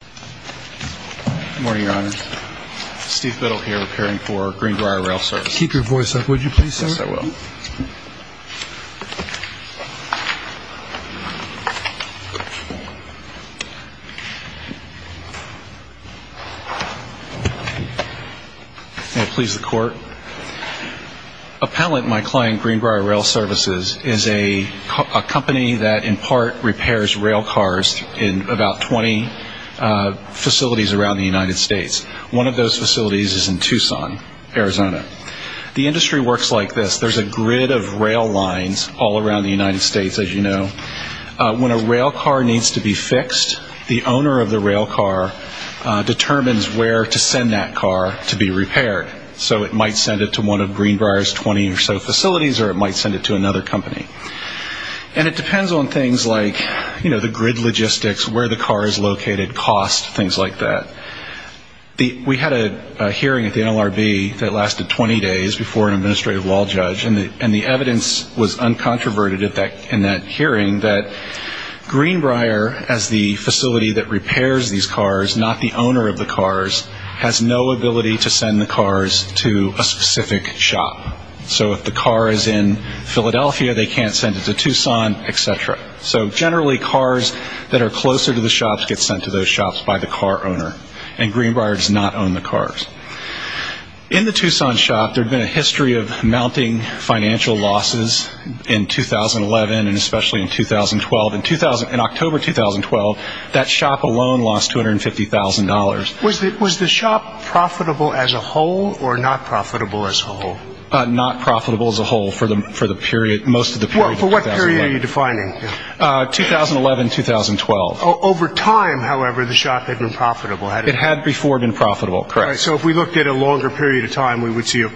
Good morning, Your Honor. Steve Biddle here, repairing for Greenbrier Rail Services. Keep your voice up, would you please, sir? Yes, I will. May it please the Court. Appellant, my client, Greenbrier Rail Services, is a company that in part repairs rail cars in about 20 facilities around the United States. One of those facilities is in Tucson, Arizona. The industry works like this. There's a grid of rail lines all around the United States, as you know. When a rail car needs to be fixed, the owner of the rail car determines where to send that car to be repaired. So it might send it to one of Greenbrier's 20 or so facilities, or it might send it to another company. And it depends on things like, you know, the grid logistics, where the car is located, cost, things like that. We had a hearing at the NLRB that lasted 20 days before an administrative law judge, and the evidence was uncontroverted in that hearing that Greenbrier, as the facility that repairs these cars, not the owner of the cars, has no ability to send the cars to a specific shop. So if the car is in Philadelphia, they can't send it to Tucson, et cetera. So generally, cars that are closer to the shops get sent to those shops by the car owner. And Greenbrier does not own the cars. In the Tucson shop, there had been a history of mounting financial losses in 2011 and especially in 2012. In October 2012, that shop alone lost $250,000. Was the shop profitable as a whole or not profitable as a whole? Not profitable as a whole for the period, most of the period. For what period are you defining? 2011, 2012. Over time, however, the shop had been profitable. It had before been profitable, correct. So if we looked at a longer period of time, we would see that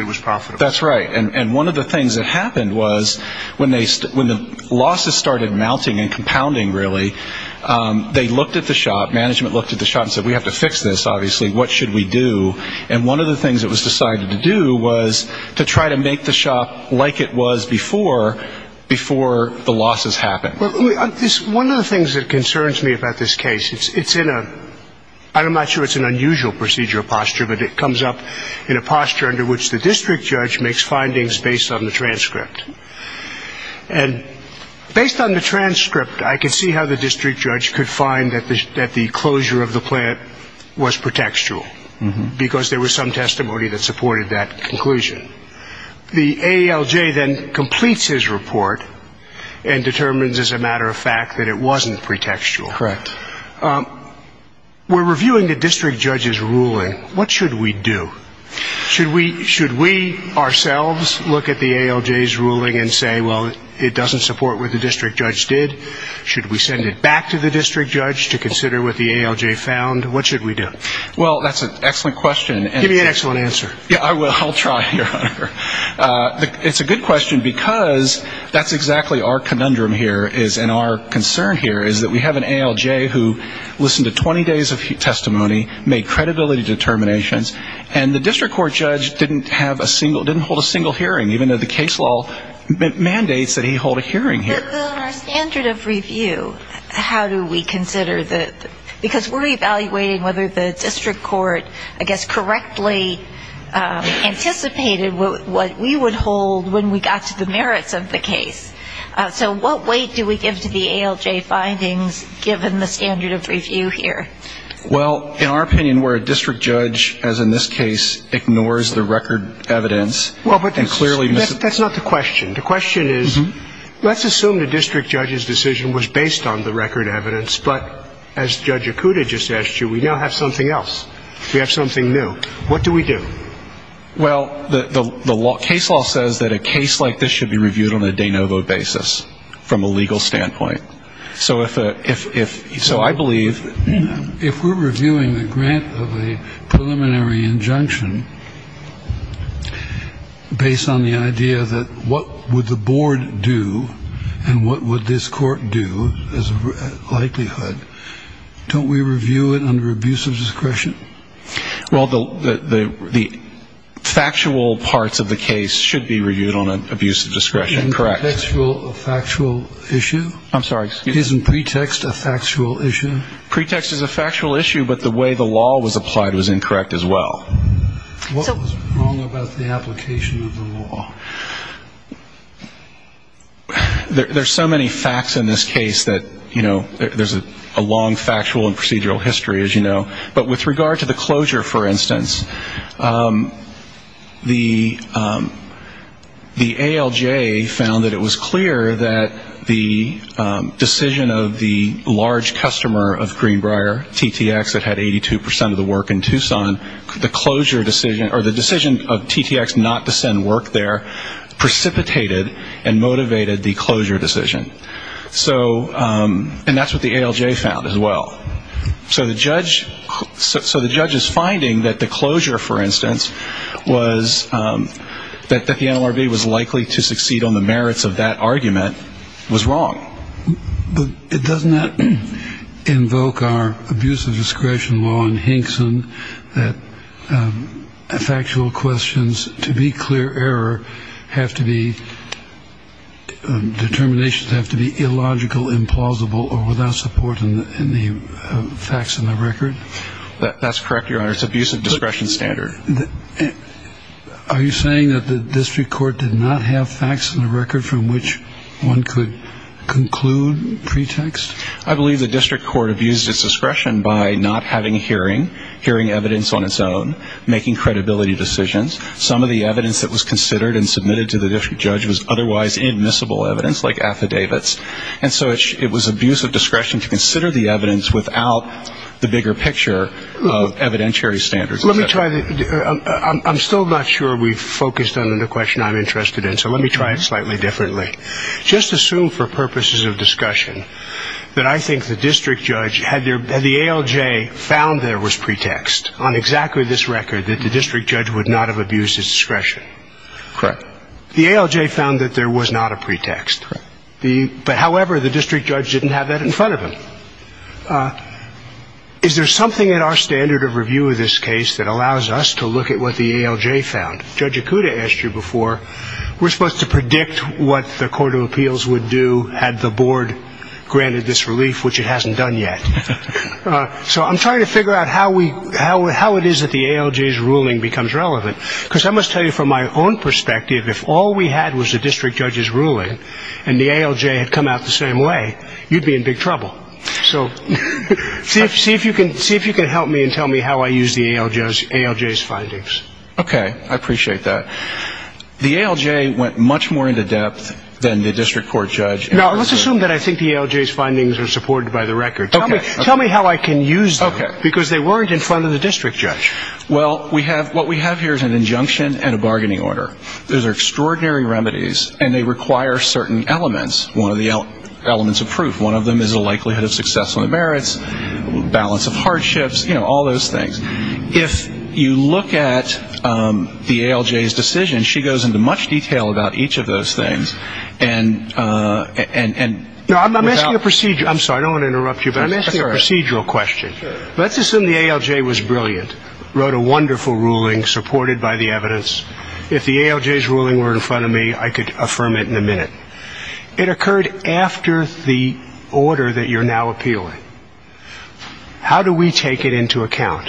it was profitable. That's right. And one of the things that happened was when the losses started mounting and compounding, really, they looked at the shop, management looked at the shop and said, we have to fix this, obviously. What should we do? And one of the things that was decided to do was to try to make the shop like it was before the losses happened. One of the things that concerns me about this case, it's in a, I'm not sure it's an unusual procedure or posture, but it comes up in a posture under which the district judge makes findings based on the transcript. And based on the transcript, I can see how the district judge could find that the closure of the plant was pretextual, because there was some testimony that supported that conclusion. The ALJ then completes his report and determines, as a matter of fact, that it wasn't pretextual. Correct. We're reviewing the district judge's ruling. What should we do? Should we ourselves look at the ALJ's ruling and say, well, it doesn't support what the district judge did? Should we send it back to the district judge to consider what the ALJ found? What should we do? Well, that's an excellent question. Give me an excellent answer. Yeah, I will. I'll try, Your Honor. It's a good question, because that's exactly our conundrum here, and our concern here, is that we have an ALJ who listened to 20 days of testimony, made credibility determinations, and the district court judge didn't hold a single hearing, even though the case law mandates that he hold a hearing here. But on our standard of review, how do we consider that? Because we're evaluating whether the district court, I guess, correctly anticipated what we would hold when we got to the merits of the case. So what weight do we give to the ALJ findings, given the standard of review here? Well, in our opinion, where a district judge, as in this case, ignores the record evidence and clearly mis- That's not the question. The question is, let's assume the district judge's decision was based on the record evidence, but as Judge Okuda just asked you, we now have something else. We have something new. What do we do? Well, the case law says that a case like this should be reviewed on a de novo basis, from a legal standpoint. So I believe- If we're reviewing the grant of a preliminary injunction, based on the idea that what would the board do and what would this court do as a likelihood, don't we review it under abuse of discretion? Well, the factual parts of the case should be reviewed on an abuse of discretion, correct. A factual issue? I'm sorry. Isn't pretext a factual issue? Pretext is a factual issue, but the way the law was applied was incorrect as well. What was wrong about the application of the law? There's so many facts in this case that, you know, there's a long factual and procedural history, as you know. But with regard to the closure, for instance, the ALJ found that it was clear that the decision of the large customer of Greenbrier, TTX, that had 82 percent of the work in Tucson, the decision of TTX not to send work there precipitated and motivated the closure decision. And that's what the ALJ found as well. So the judge's finding that the closure, for instance, was that the NLRB was likely to succeed on the merits of that argument was wrong. But doesn't that invoke our abuse of discretion law in Hinkson that factual questions, to be clear, error have to be determinations that have to be illogical, implausible or without support in the facts in the record? That's correct, Your Honor. It's abuse of discretion standard. Are you saying that the district court did not have facts in the record from which one could conclude pretext? I believe the district court abused its discretion by not having hearing, hearing evidence on its own, making credibility decisions. Some of the evidence that was considered and submitted to the district judge was otherwise admissible evidence, like affidavits. And so it was abuse of discretion to consider the evidence without the bigger picture of evidentiary standards. Let me try. I'm still not sure we've focused on the question I'm interested in. So let me try it slightly differently. Just assume for purposes of discussion that I think the district judge had the ALJ found there was pretext on exactly this record, that the district judge would not have abused his discretion. Correct. The ALJ found that there was not a pretext. But however, the district judge didn't have that in front of him. Is there something in our standard of review of this case that allows us to look at what the ALJ found? Judge Ikuda asked you before. We're supposed to predict what the court of appeals would do had the board granted this relief, which it hasn't done yet. So I'm trying to figure out how it is that the ALJ's ruling becomes relevant, because I must tell you from my own perspective, if all we had was the district judge's ruling and the ALJ had come out the same way, you'd be in big trouble. So see if you can help me and tell me how I use the ALJ's findings. Okay. I appreciate that. The ALJ went much more into depth than the district court judge. Now, let's assume that I think the ALJ's findings are supported by the record. Tell me how I can use them, because they weren't in front of the district judge. Well, what we have here is an injunction and a bargaining order. Those are extraordinary remedies, and they require certain elements. One of the elements of proof. One of them is a likelihood of success on the merits, balance of hardships, you know, all those things. If you look at the ALJ's decision, she goes into much detail about each of those things. No, I'm asking a procedure. I'm sorry. I don't want to interrupt you, but I'm asking a procedural question. Let's assume the ALJ was brilliant, wrote a wonderful ruling supported by the evidence. If the ALJ's ruling were in front of me, I could affirm it in a minute. It occurred after the order that you're now appealing. How do we take it into account?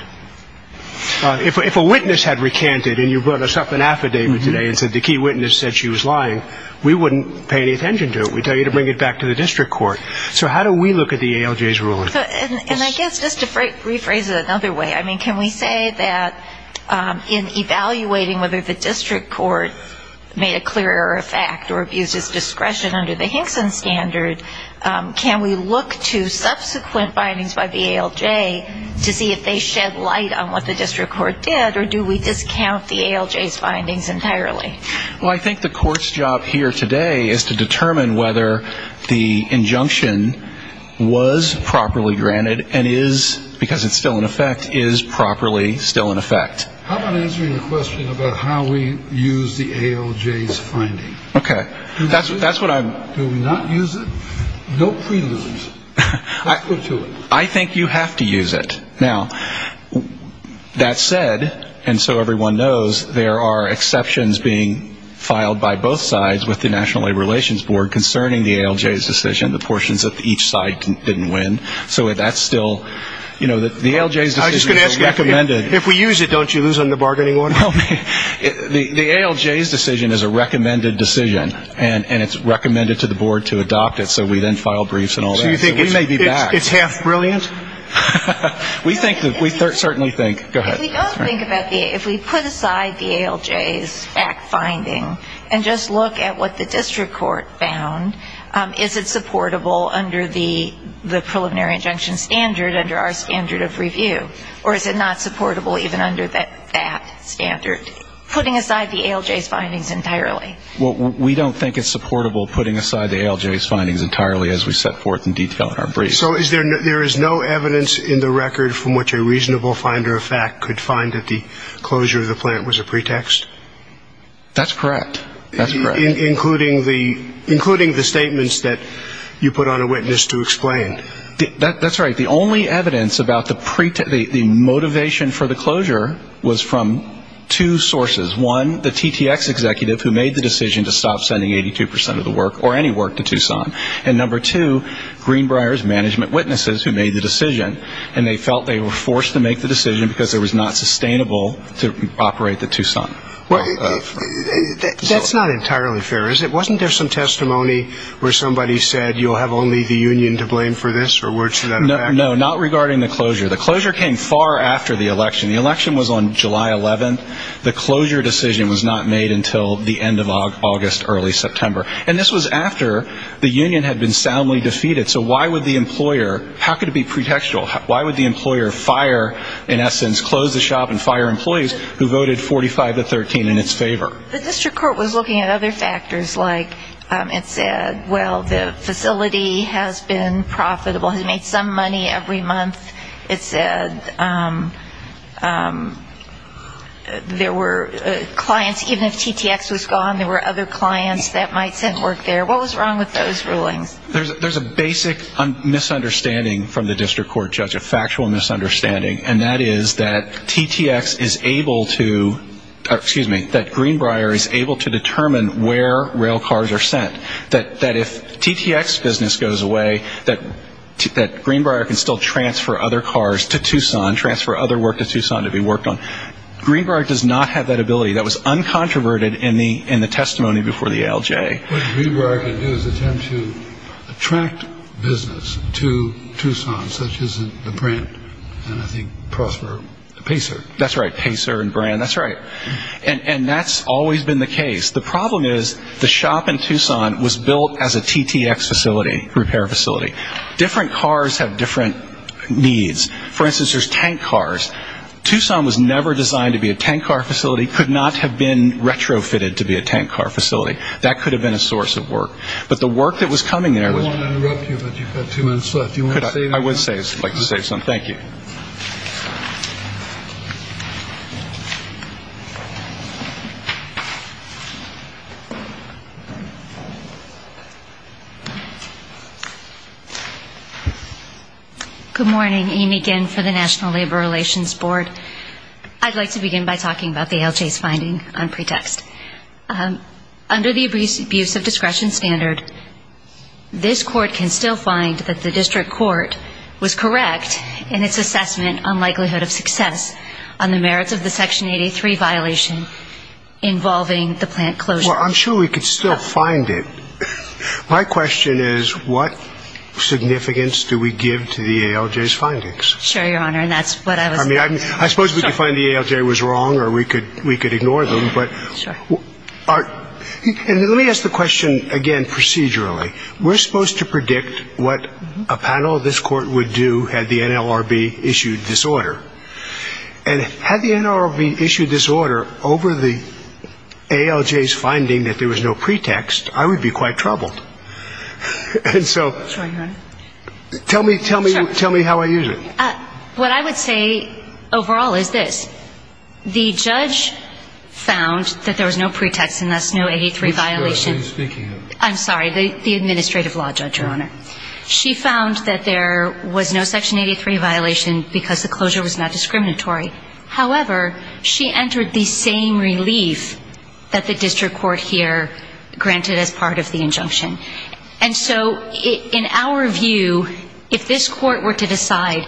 If a witness had recanted and you brought us up an affidavit today and said the key witness said she was lying, we wouldn't pay any attention to it. We'd tell you to bring it back to the district court. So how do we look at the ALJ's ruling? And I guess just to rephrase it another way, I mean, can we say that in evaluating whether the district court made a clear error of fact or abused its discretion under the Hinkson standard, can we look to subsequent findings by the ALJ to see if they shed light on what the district court did, or do we discount the ALJ's findings entirely? Well, I think the court's job here today is to determine whether the injunction was properly granted and is, because it's still in effect, is properly still in effect. How about answering the question about how we use the ALJ's finding? Okay. That's what I'm... Do we not use it? No preludes. Let's go to it. I think you have to use it. Now, that said, and so everyone knows, there are exceptions being filed by both sides with the National Labor Relations Board concerning the ALJ's decision, the portions that each side didn't win. So that's still, you know, the ALJ's decision is recommended. I was just going to ask you, if we use it, don't you lose on the bargaining order? The ALJ's decision is a recommended decision, and it's recommended to the board to adopt it, so we then file briefs and all that. So you think it's half brilliant? We think, we certainly think. Go ahead. If we put aside the ALJ's fact finding and just look at what the district court found, is it supportable under the preliminary injunction standard, under our standard of review, or is it not supportable even under that standard, putting aside the ALJ's findings entirely? Well, we don't think it's supportable putting aside the ALJ's findings entirely as we set forth in detail in our brief. So there is no evidence in the record from which a reasonable finder of fact could find that the closure of the plant was a pretext? That's correct. That's correct. Including the statements that you put on a witness to explain. That's right. The only evidence about the motivation for the closure was from two sources. One, the TTX executive who made the decision to stop sending 82% of the work or any work to Tucson. And number two, Greenbrier's management witnesses who made the decision, and they felt they were forced to make the decision because it was not sustainable to operate the Tucson. That's not entirely fair, is it? Wasn't there some testimony where somebody said you'll have only the union to blame for this? No, not regarding the closure. The closure came far after the election. The election was on July 11th. The closure decision was not made until the end of August, early September. And this was after the union had been soundly defeated. So why would the employer, how could it be pretextual? Why would the employer fire, in essence, close the shop and fire employees who voted 45 to 13 in its favor? The district court was looking at other factors, like it said, well, the facility has been profitable, has made some money every month. It said there were clients, even if TTX was gone, there were other clients that might send work there. What was wrong with those rulings? There's a basic misunderstanding from the district court judge, a factual misunderstanding, and that is that TTX is able to, excuse me, that Greenbrier is able to determine where rail cars are sent. That if TTX business goes away, that Greenbrier can still transfer other cars to Tucson, transfer other work to Tucson to be worked on. Greenbrier does not have that ability. That was uncontroverted in the testimony before the ALJ. What Greenbrier can do is attempt to attract business to Tucson, such as the brand, and I think prosper Pacer. That's right, Pacer and brand, that's right. And that's always been the case. The problem is the shop in Tucson was built as a TTX facility, repair facility. Different cars have different needs. For instance, there's tank cars. Tucson was never designed to be a tank car facility, could not have been retrofitted to be a tank car facility. That could have been a source of work. But the work that was coming there was... I don't want to interrupt you, but you've got two minutes left. Do you want to say anything? I would like to say something. Thank you. Good morning. Amy Ginn for the National Labor Relations Board. I'd like to begin by talking about the ALJ's finding on pretext. Under the abuse of discretion standard, this court can still find that the district court was correct in its assessment on likelihood of success on the merits of the Section 83 violation involving the plant closure. Well, I'm sure we could still find it. My question is what significance do we give to the ALJ's findings? Sure, Your Honor, and that's what I was... I mean, I suppose we could find the ALJ was wrong or we could ignore them, but... Sure. And let me ask the question again procedurally. We're supposed to predict what a panel of this court would do had the NLRB issued this order. And had the NLRB issued this order over the ALJ's finding that there was no pretext, I would be quite troubled. And so... Sure, Your Honor. Tell me how I use it. What I would say overall is this. The judge found that there was no pretext and thus no 83 violation. Which judge are you speaking of? I'm sorry, the administrative law judge, Your Honor. She found that there was no Section 83 violation because the closure was not discriminatory. However, she entered the same relief that the district court here granted as part of the injunction. And so in our view, if this court were to decide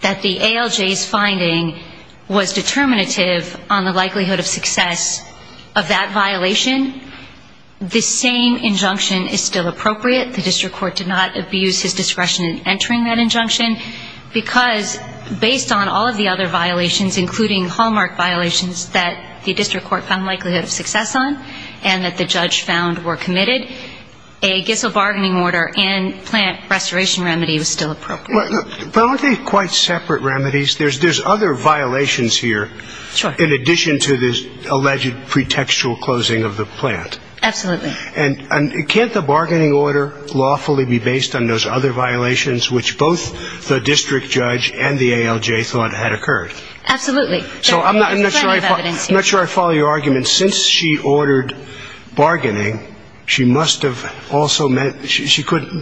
that the ALJ's finding was determinative on the likelihood of success of that violation, the same injunction is still appropriate. The district court did not abuse his discretion in entering that injunction because based on all of the other violations, including hallmark violations that the district court found likelihood of success on and that the judge found were committed, a Gissell bargaining order and plant restoration remedy was still appropriate. But aren't they quite separate remedies? There's other violations here in addition to this alleged pretextual closing of the plant. Absolutely. And can't the bargaining order lawfully be based on those other violations which both the district judge and the ALJ thought had occurred? Absolutely. So I'm not sure I follow your argument. Since she ordered bargaining, she must have also meant she couldn't.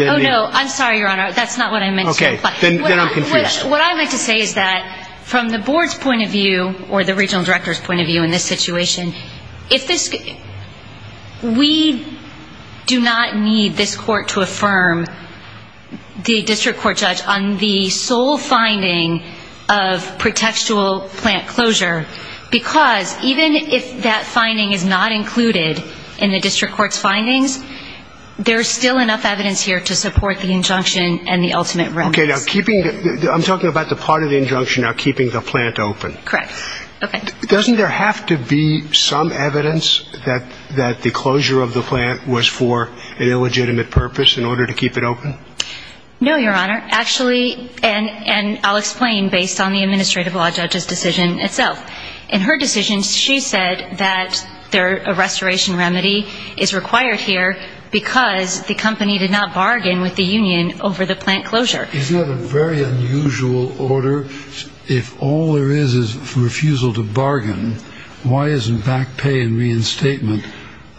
Oh, no. I'm sorry, Your Honor. That's not what I meant. Okay. Then I'm confused. What I meant to say is that from the board's point of view or the regional director's point of view in this situation, we do not need this court to affirm the district court judge on the sole finding of pretextual plant closure because even if that finding is not included in the district court's findings, there's still enough evidence here to support the injunction and the ultimate remedy. Okay. I'm talking about the part of the injunction of keeping the plant open. Correct. Okay. Doesn't there have to be some evidence that the closure of the plant was for an illegitimate purpose in order to keep it open? No, Your Honor. And I'll explain based on the administrative law judge's decision itself. In her decision, she said that a restoration remedy is required here because the company did not bargain with the union over the plant closure. Isn't that a very unusual order? If all there is is refusal to bargain, why isn't back pay and reinstatement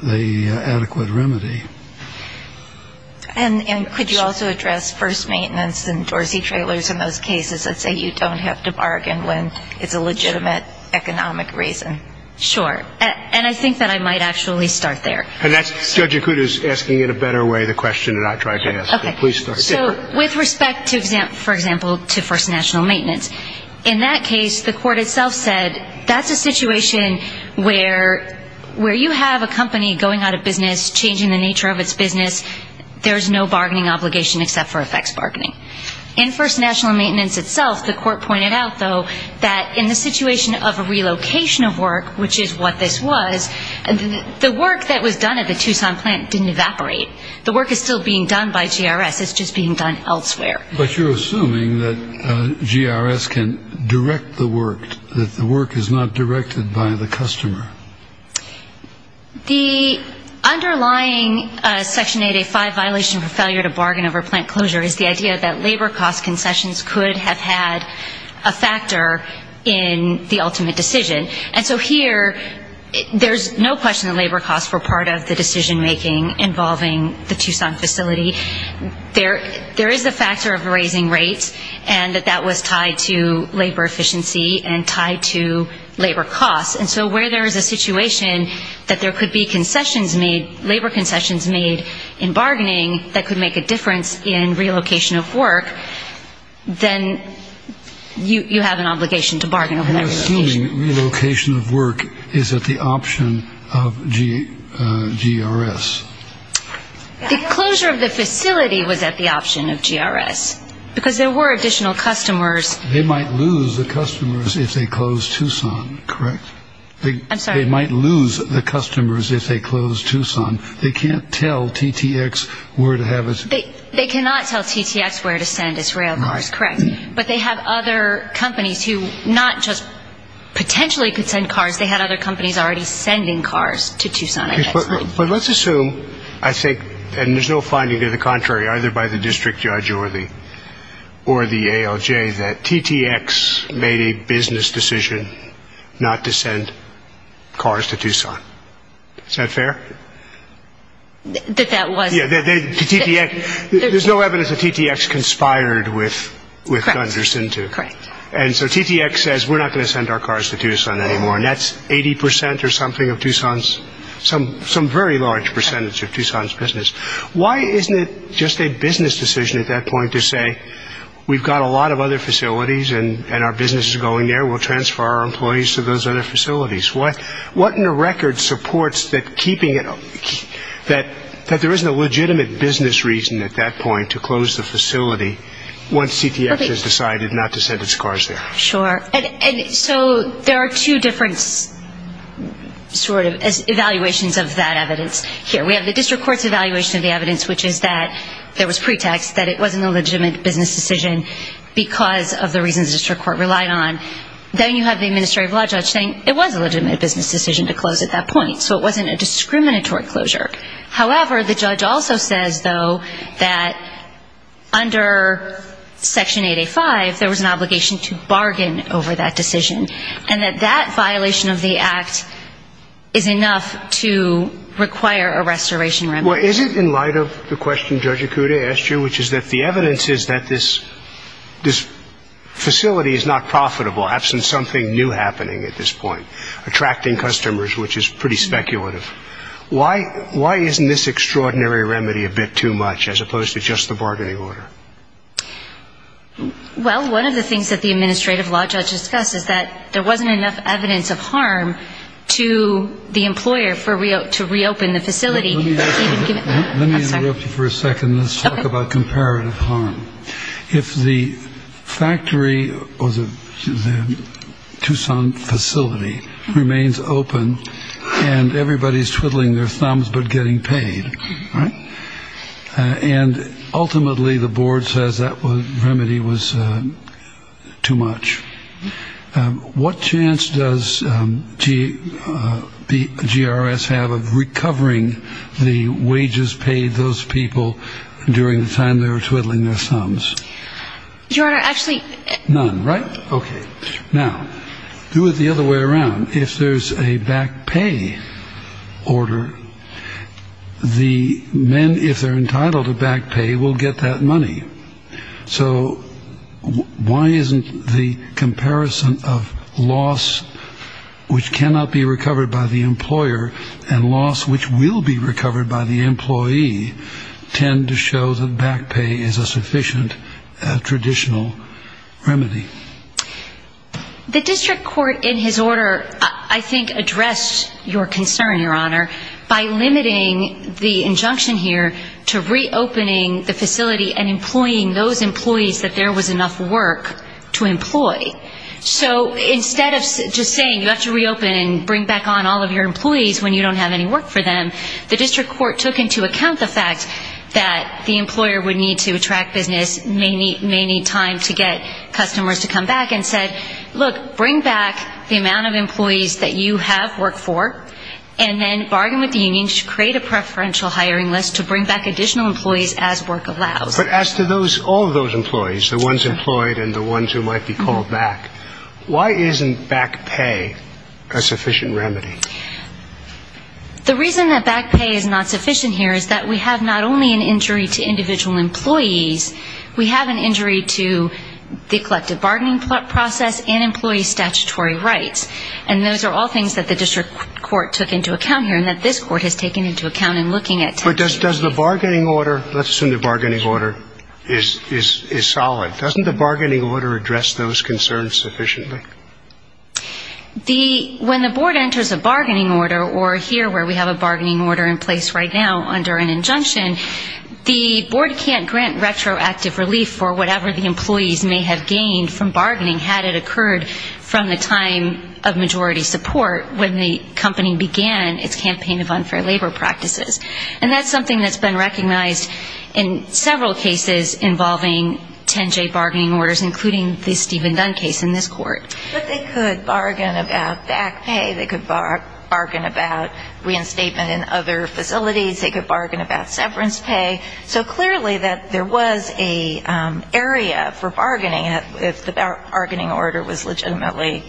the adequate remedy? And could you also address first maintenance and Dorsey trailers in those cases that say you don't have to bargain when it's a legitimate economic reason? Sure. And I think that I might actually start there. And that's Judge Acuda's asking in a better way the question that I tried to ask. Okay. So with respect to, for example, to first national maintenance, in that case the court itself said that's a situation where you have a company going out of business, changing the nature of its business, there's no bargaining obligation except for effects bargaining. In first national maintenance itself, the court pointed out, though, that in the situation of a relocation of work, which is what this was, the work that was done at the Tucson plant didn't evaporate. The work is still being done by GRS. It's just being done elsewhere. But you're assuming that GRS can direct the work, that the work is not directed by the customer. The underlying Section 885 violation for failure to bargain over plant closure is the idea that labor cost concessions could have had a factor in the ultimate decision. And so here there's no question that labor costs were part of the decision-making involving the Tucson facility. There is a factor of raising rates, and that that was tied to labor efficiency and tied to labor costs. And so where there is a situation that there could be concessions made, labor concessions made in bargaining that could make a difference in relocation of work, then you have an obligation to bargain over that relocation. You're assuming relocation of work is at the option of GRS. The closure of the facility was at the option of GRS because there were additional customers. They might lose the customers if they close Tucson, correct? I'm sorry? They might lose the customers if they close Tucson. They can't tell TTX where to have it. They cannot tell TTX where to send its rail cars, correct. But they have other companies who not just potentially could send cars. They had other companies already sending cars to Tucson, I guess. But let's assume, I think, and there's no finding to the contrary, either by the district judge or the ALJ, that TTX made a business decision not to send cars to Tucson. Is that fair? That that was. There's no evidence that TTX conspired with Gunderson to. Correct. And so TTX says we're not going to send our cars to Tucson anymore, and that's 80 percent or something of Tucson's, some very large percentage of Tucson's business. Why isn't it just a business decision at that point to say we've got a lot of other facilities and our business is going there, we'll transfer our employees to those other facilities? What in the record supports that keeping it, that there isn't a legitimate business reason at that point to close the facility once TTX has decided not to send its cars there? Sure. And so there are two different sort of evaluations of that evidence here. We have the district court's evaluation of the evidence, which is that there was pretext that it wasn't a legitimate business decision because of the reasons the district court relied on. Then you have the administrative law judge saying it was a legitimate business decision to close at that point, so it wasn't a discriminatory closure. However, the judge also says, though, that under Section 8A.5, there was an obligation to bargain over that decision, and that that violation of the act is enough to require a restoration remedy. Well, is it in light of the question Judge Ikuda asked you, which is that the evidence is that this facility is not profitable, absent something new happening at this point, attracting customers, which is pretty speculative. Why isn't this extraordinary remedy a bit too much as opposed to just the bargaining order? Well, one of the things that the administrative law judge discussed is that there wasn't enough evidence of harm to the employer to reopen the facility. Let me interrupt you for a second. Let's talk about comparative harm. If the factory or the Tucson facility remains open and everybody is twiddling their thumbs but getting paid, and ultimately the board says that remedy was too much, what chance does GRS have of recovering the wages paid those people during the time they were twiddling their thumbs? Your Honor, actually. None, right? Okay. Now, do it the other way around. If there's a back pay order, the men, if they're entitled to back pay, will get that money. So why isn't the comparison of loss which cannot be recovered by the employer and loss which will be recovered by the employee tend to show that back pay is a sufficient traditional remedy? The district court in his order, I think, addressed your concern, Your Honor, by limiting the injunction here to reopening the facility and employing those employees that there was enough work to employ. So instead of just saying you have to reopen and bring back on all of your employees when you don't have any work for them, the district court took into account the fact that the employer would need to attract business, may need time to get customers to come back and said, look, bring back the amount of employees that you have work for and then bargain with the union to create a preferential hiring list to bring back additional employees as work allows. But as to all of those employees, the ones employed and the ones who might be called back, why isn't back pay a sufficient remedy? The reason that back pay is not sufficient here is that we have not only an injury to individual employees, we have an injury to the collective bargaining process and employee statutory rights. And those are all things that the district court took into account here and that this court has taken into account in looking at tensions. But does the bargaining order, let's assume the bargaining order is solid, doesn't the bargaining order address those concerns sufficiently? When the board enters a bargaining order, or here where we have a bargaining order in place right now under an injunction, the board can't grant retroactive relief for whatever the employees may have gained from bargaining had it occurred from the time of majority support when the company began its campaign of unfair labor practices. And that's something that's been recognized in several cases involving 10J bargaining orders, including the Stephen Dunn case in this court. But they could bargain about back pay. They could bargain about reinstatement in other facilities. They could bargain about severance pay. So clearly that there was an area for bargaining if the bargaining order was legitimately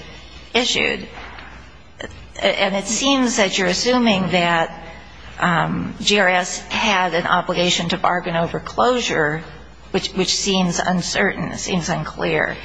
issued. And it seems that you're assuming that GRS had an obligation to bargain over closure, which seems uncertain. It seems unclear.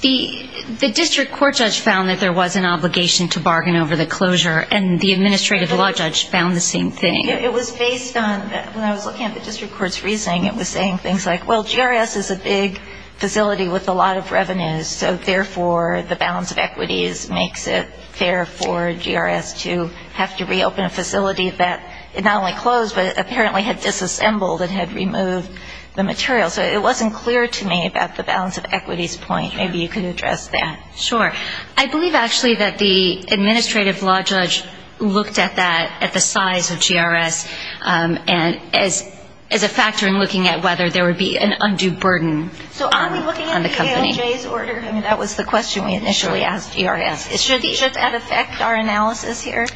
The district court judge found that there was an obligation to bargain over the closure, and the administrative law judge found the same thing. It was based on, when I was looking at the district court's reasoning, it was saying things like, well, GRS is a big facility with a lot of revenues, so therefore the balance of equities makes it fair for GRS to have to reopen a facility that not only closed but apparently had disassembled and had removed the material. So it wasn't clear to me about the balance of equities point. Maybe you could address that. Sure. I believe actually that the administrative law judge looked at that, at the size of GRS, as a factor in looking at whether there would be an undue burden on the company. So are we looking at the ALJ's order? I mean, that was the question we initially asked GRS. Should that affect our analysis here?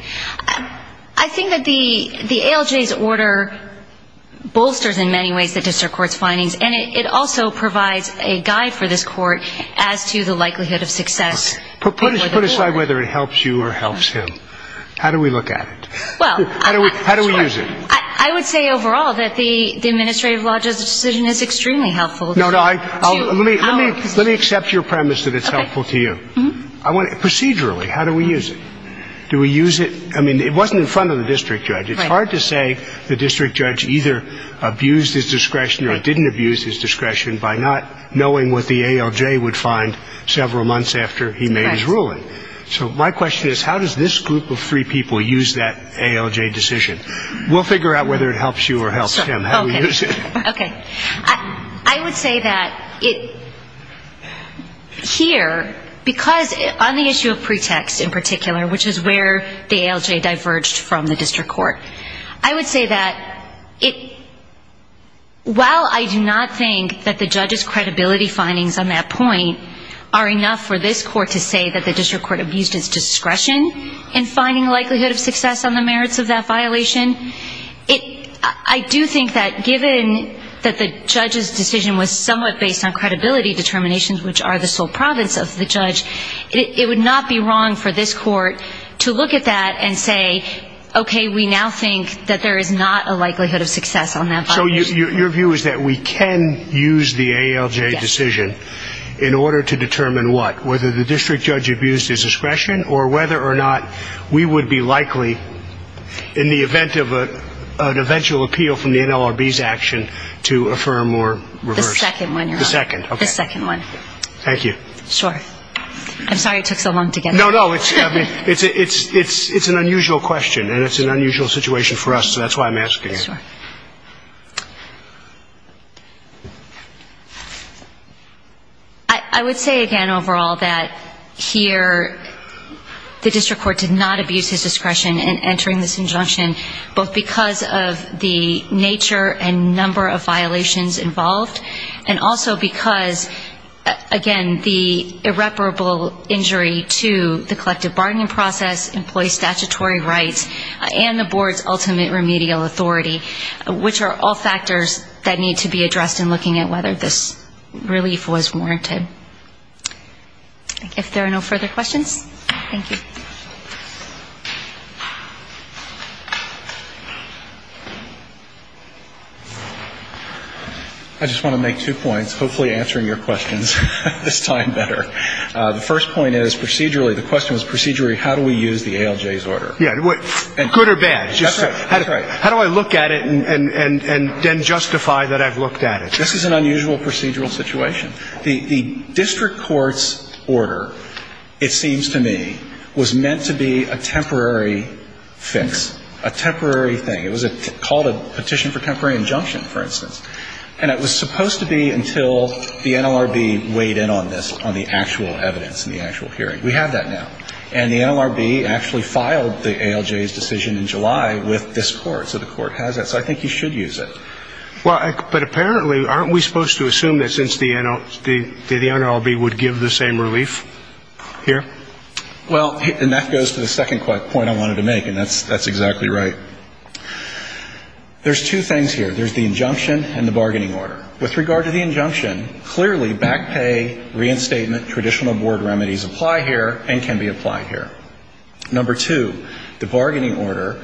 I think that the ALJ's order bolsters in many ways the district court's findings, and it also provides a guide for this court as to the likelihood of success. Put aside whether it helps you or helps him. How do we look at it? How do we use it? I would say overall that the administrative law judge's decision is extremely helpful. Let me accept your premise that it's helpful to you. Procedurally, how do we use it? Do we use it? I mean, it wasn't in front of the district judge. It's hard to say the district judge either abused his discretion or didn't abuse his discretion by not knowing what the ALJ would find several months after he made his ruling. So my question is, how does this group of three people use that ALJ decision? We'll figure out whether it helps you or helps him. How do we use it? Okay. I would say that here, because on the issue of pretext in particular, which is where the ALJ diverged from the district court, I would say that while I do not think that the judge's credibility findings on that point are enough for this court to say that the district court abused its discretion in finding likelihood of success on the merits of that violation, I do think that given that the judge's decision was somewhat based on credibility determinations, which are the sole province of the judge, it would not be wrong for this court to look at that and say, okay, we now think that there is not a likelihood of success on that violation. So your view is that we can use the ALJ decision in order to determine what? Whether the district judge abused his discretion or whether or not we would be likely, in the event of an eventual appeal from the NLRB's action, to affirm or reverse. The second one, Your Honor. The second. The second one. Thank you. Sure. I'm sorry it took so long to get that. No, no. It's an unusual question, and it's an unusual situation for us, so that's why I'm asking it. Sure. I would say, again, overall, that here the district court did not abuse its discretion in entering this injunction, both because of the nature and number of violations involved and also because, again, the irreparable injury to the collective bargaining process employs statutory rights and the board's ultimate remedial authority, which are all factors that need to be addressed in looking at whether this relief was warranted. If there are no further questions. Thank you. I just want to make two points, hopefully answering your questions this time better. The first point is, procedurally, the question was procedurally, how do we use the ALJ's order? Yeah. Good or bad? That's right. That's right. How do I look at it and then justify that I've looked at it? This is an unusual procedural situation. The district court's order, it seems to me, was an unusual procedure. It was meant to be a temporary fix, a temporary thing. It was called a petition for temporary injunction, for instance. And it was supposed to be until the NLRB weighed in on this, on the actual evidence and the actual hearing. We have that now. And the NLRB actually filed the ALJ's decision in July with this court. So the court has that. So I think you should use it. But apparently, aren't we supposed to assume that since the NLRB would give the same relief here? Well, and that goes to the second point I wanted to make, and that's exactly right. There's two things here. There's the injunction and the bargaining order. With regard to the injunction, clearly back pay, reinstatement, traditional board remedies apply here and can be applied here. Number two, the bargaining order,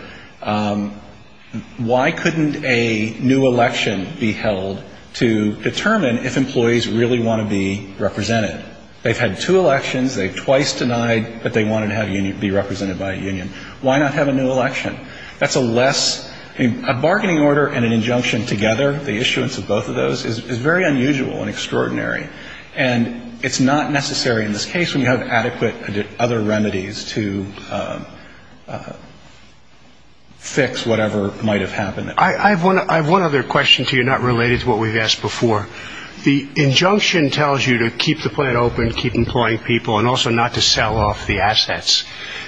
why couldn't a new election be held to determine if employees really want to be represented? They've had two elections. They've twice denied that they wanted to be represented by a union. Why not have a new election? That's a less ñ a bargaining order and an injunction together, the issuance of both of those, is very unusual and extraordinary. And it's not necessary in this case when you have adequate other remedies to fix whatever might have happened. I have one other question to you not related to what we've asked before. The injunction tells you to keep the plant open, keep employing people, and also not to sell off the assets.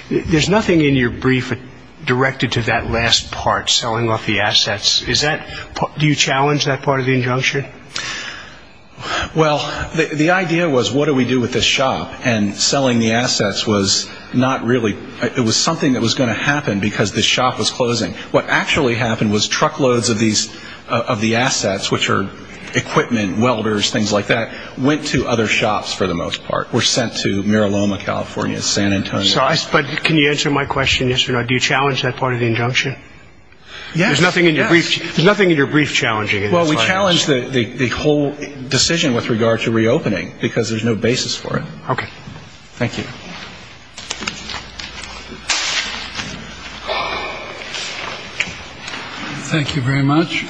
There's nothing in your brief directed to that last part, selling off the assets. Is that ñ do you challenge that part of the injunction? Well, the idea was what do we do with this shop, and selling the assets was not really ñ it was something that was going to happen because this shop was closing. What actually happened was truckloads of these ñ of the assets, which are equipment, welders, things like that, went to other shops for the most part, were sent to Mira Loma, California, San Antonio. Sorry, but can you answer my question, yes or no? Do you challenge that part of the injunction? Yes. There's nothing in your brief challenging it. Well, we challenge the whole decision with regard to reopening because there's no basis for it. Okay. Thank you. Thank you very much.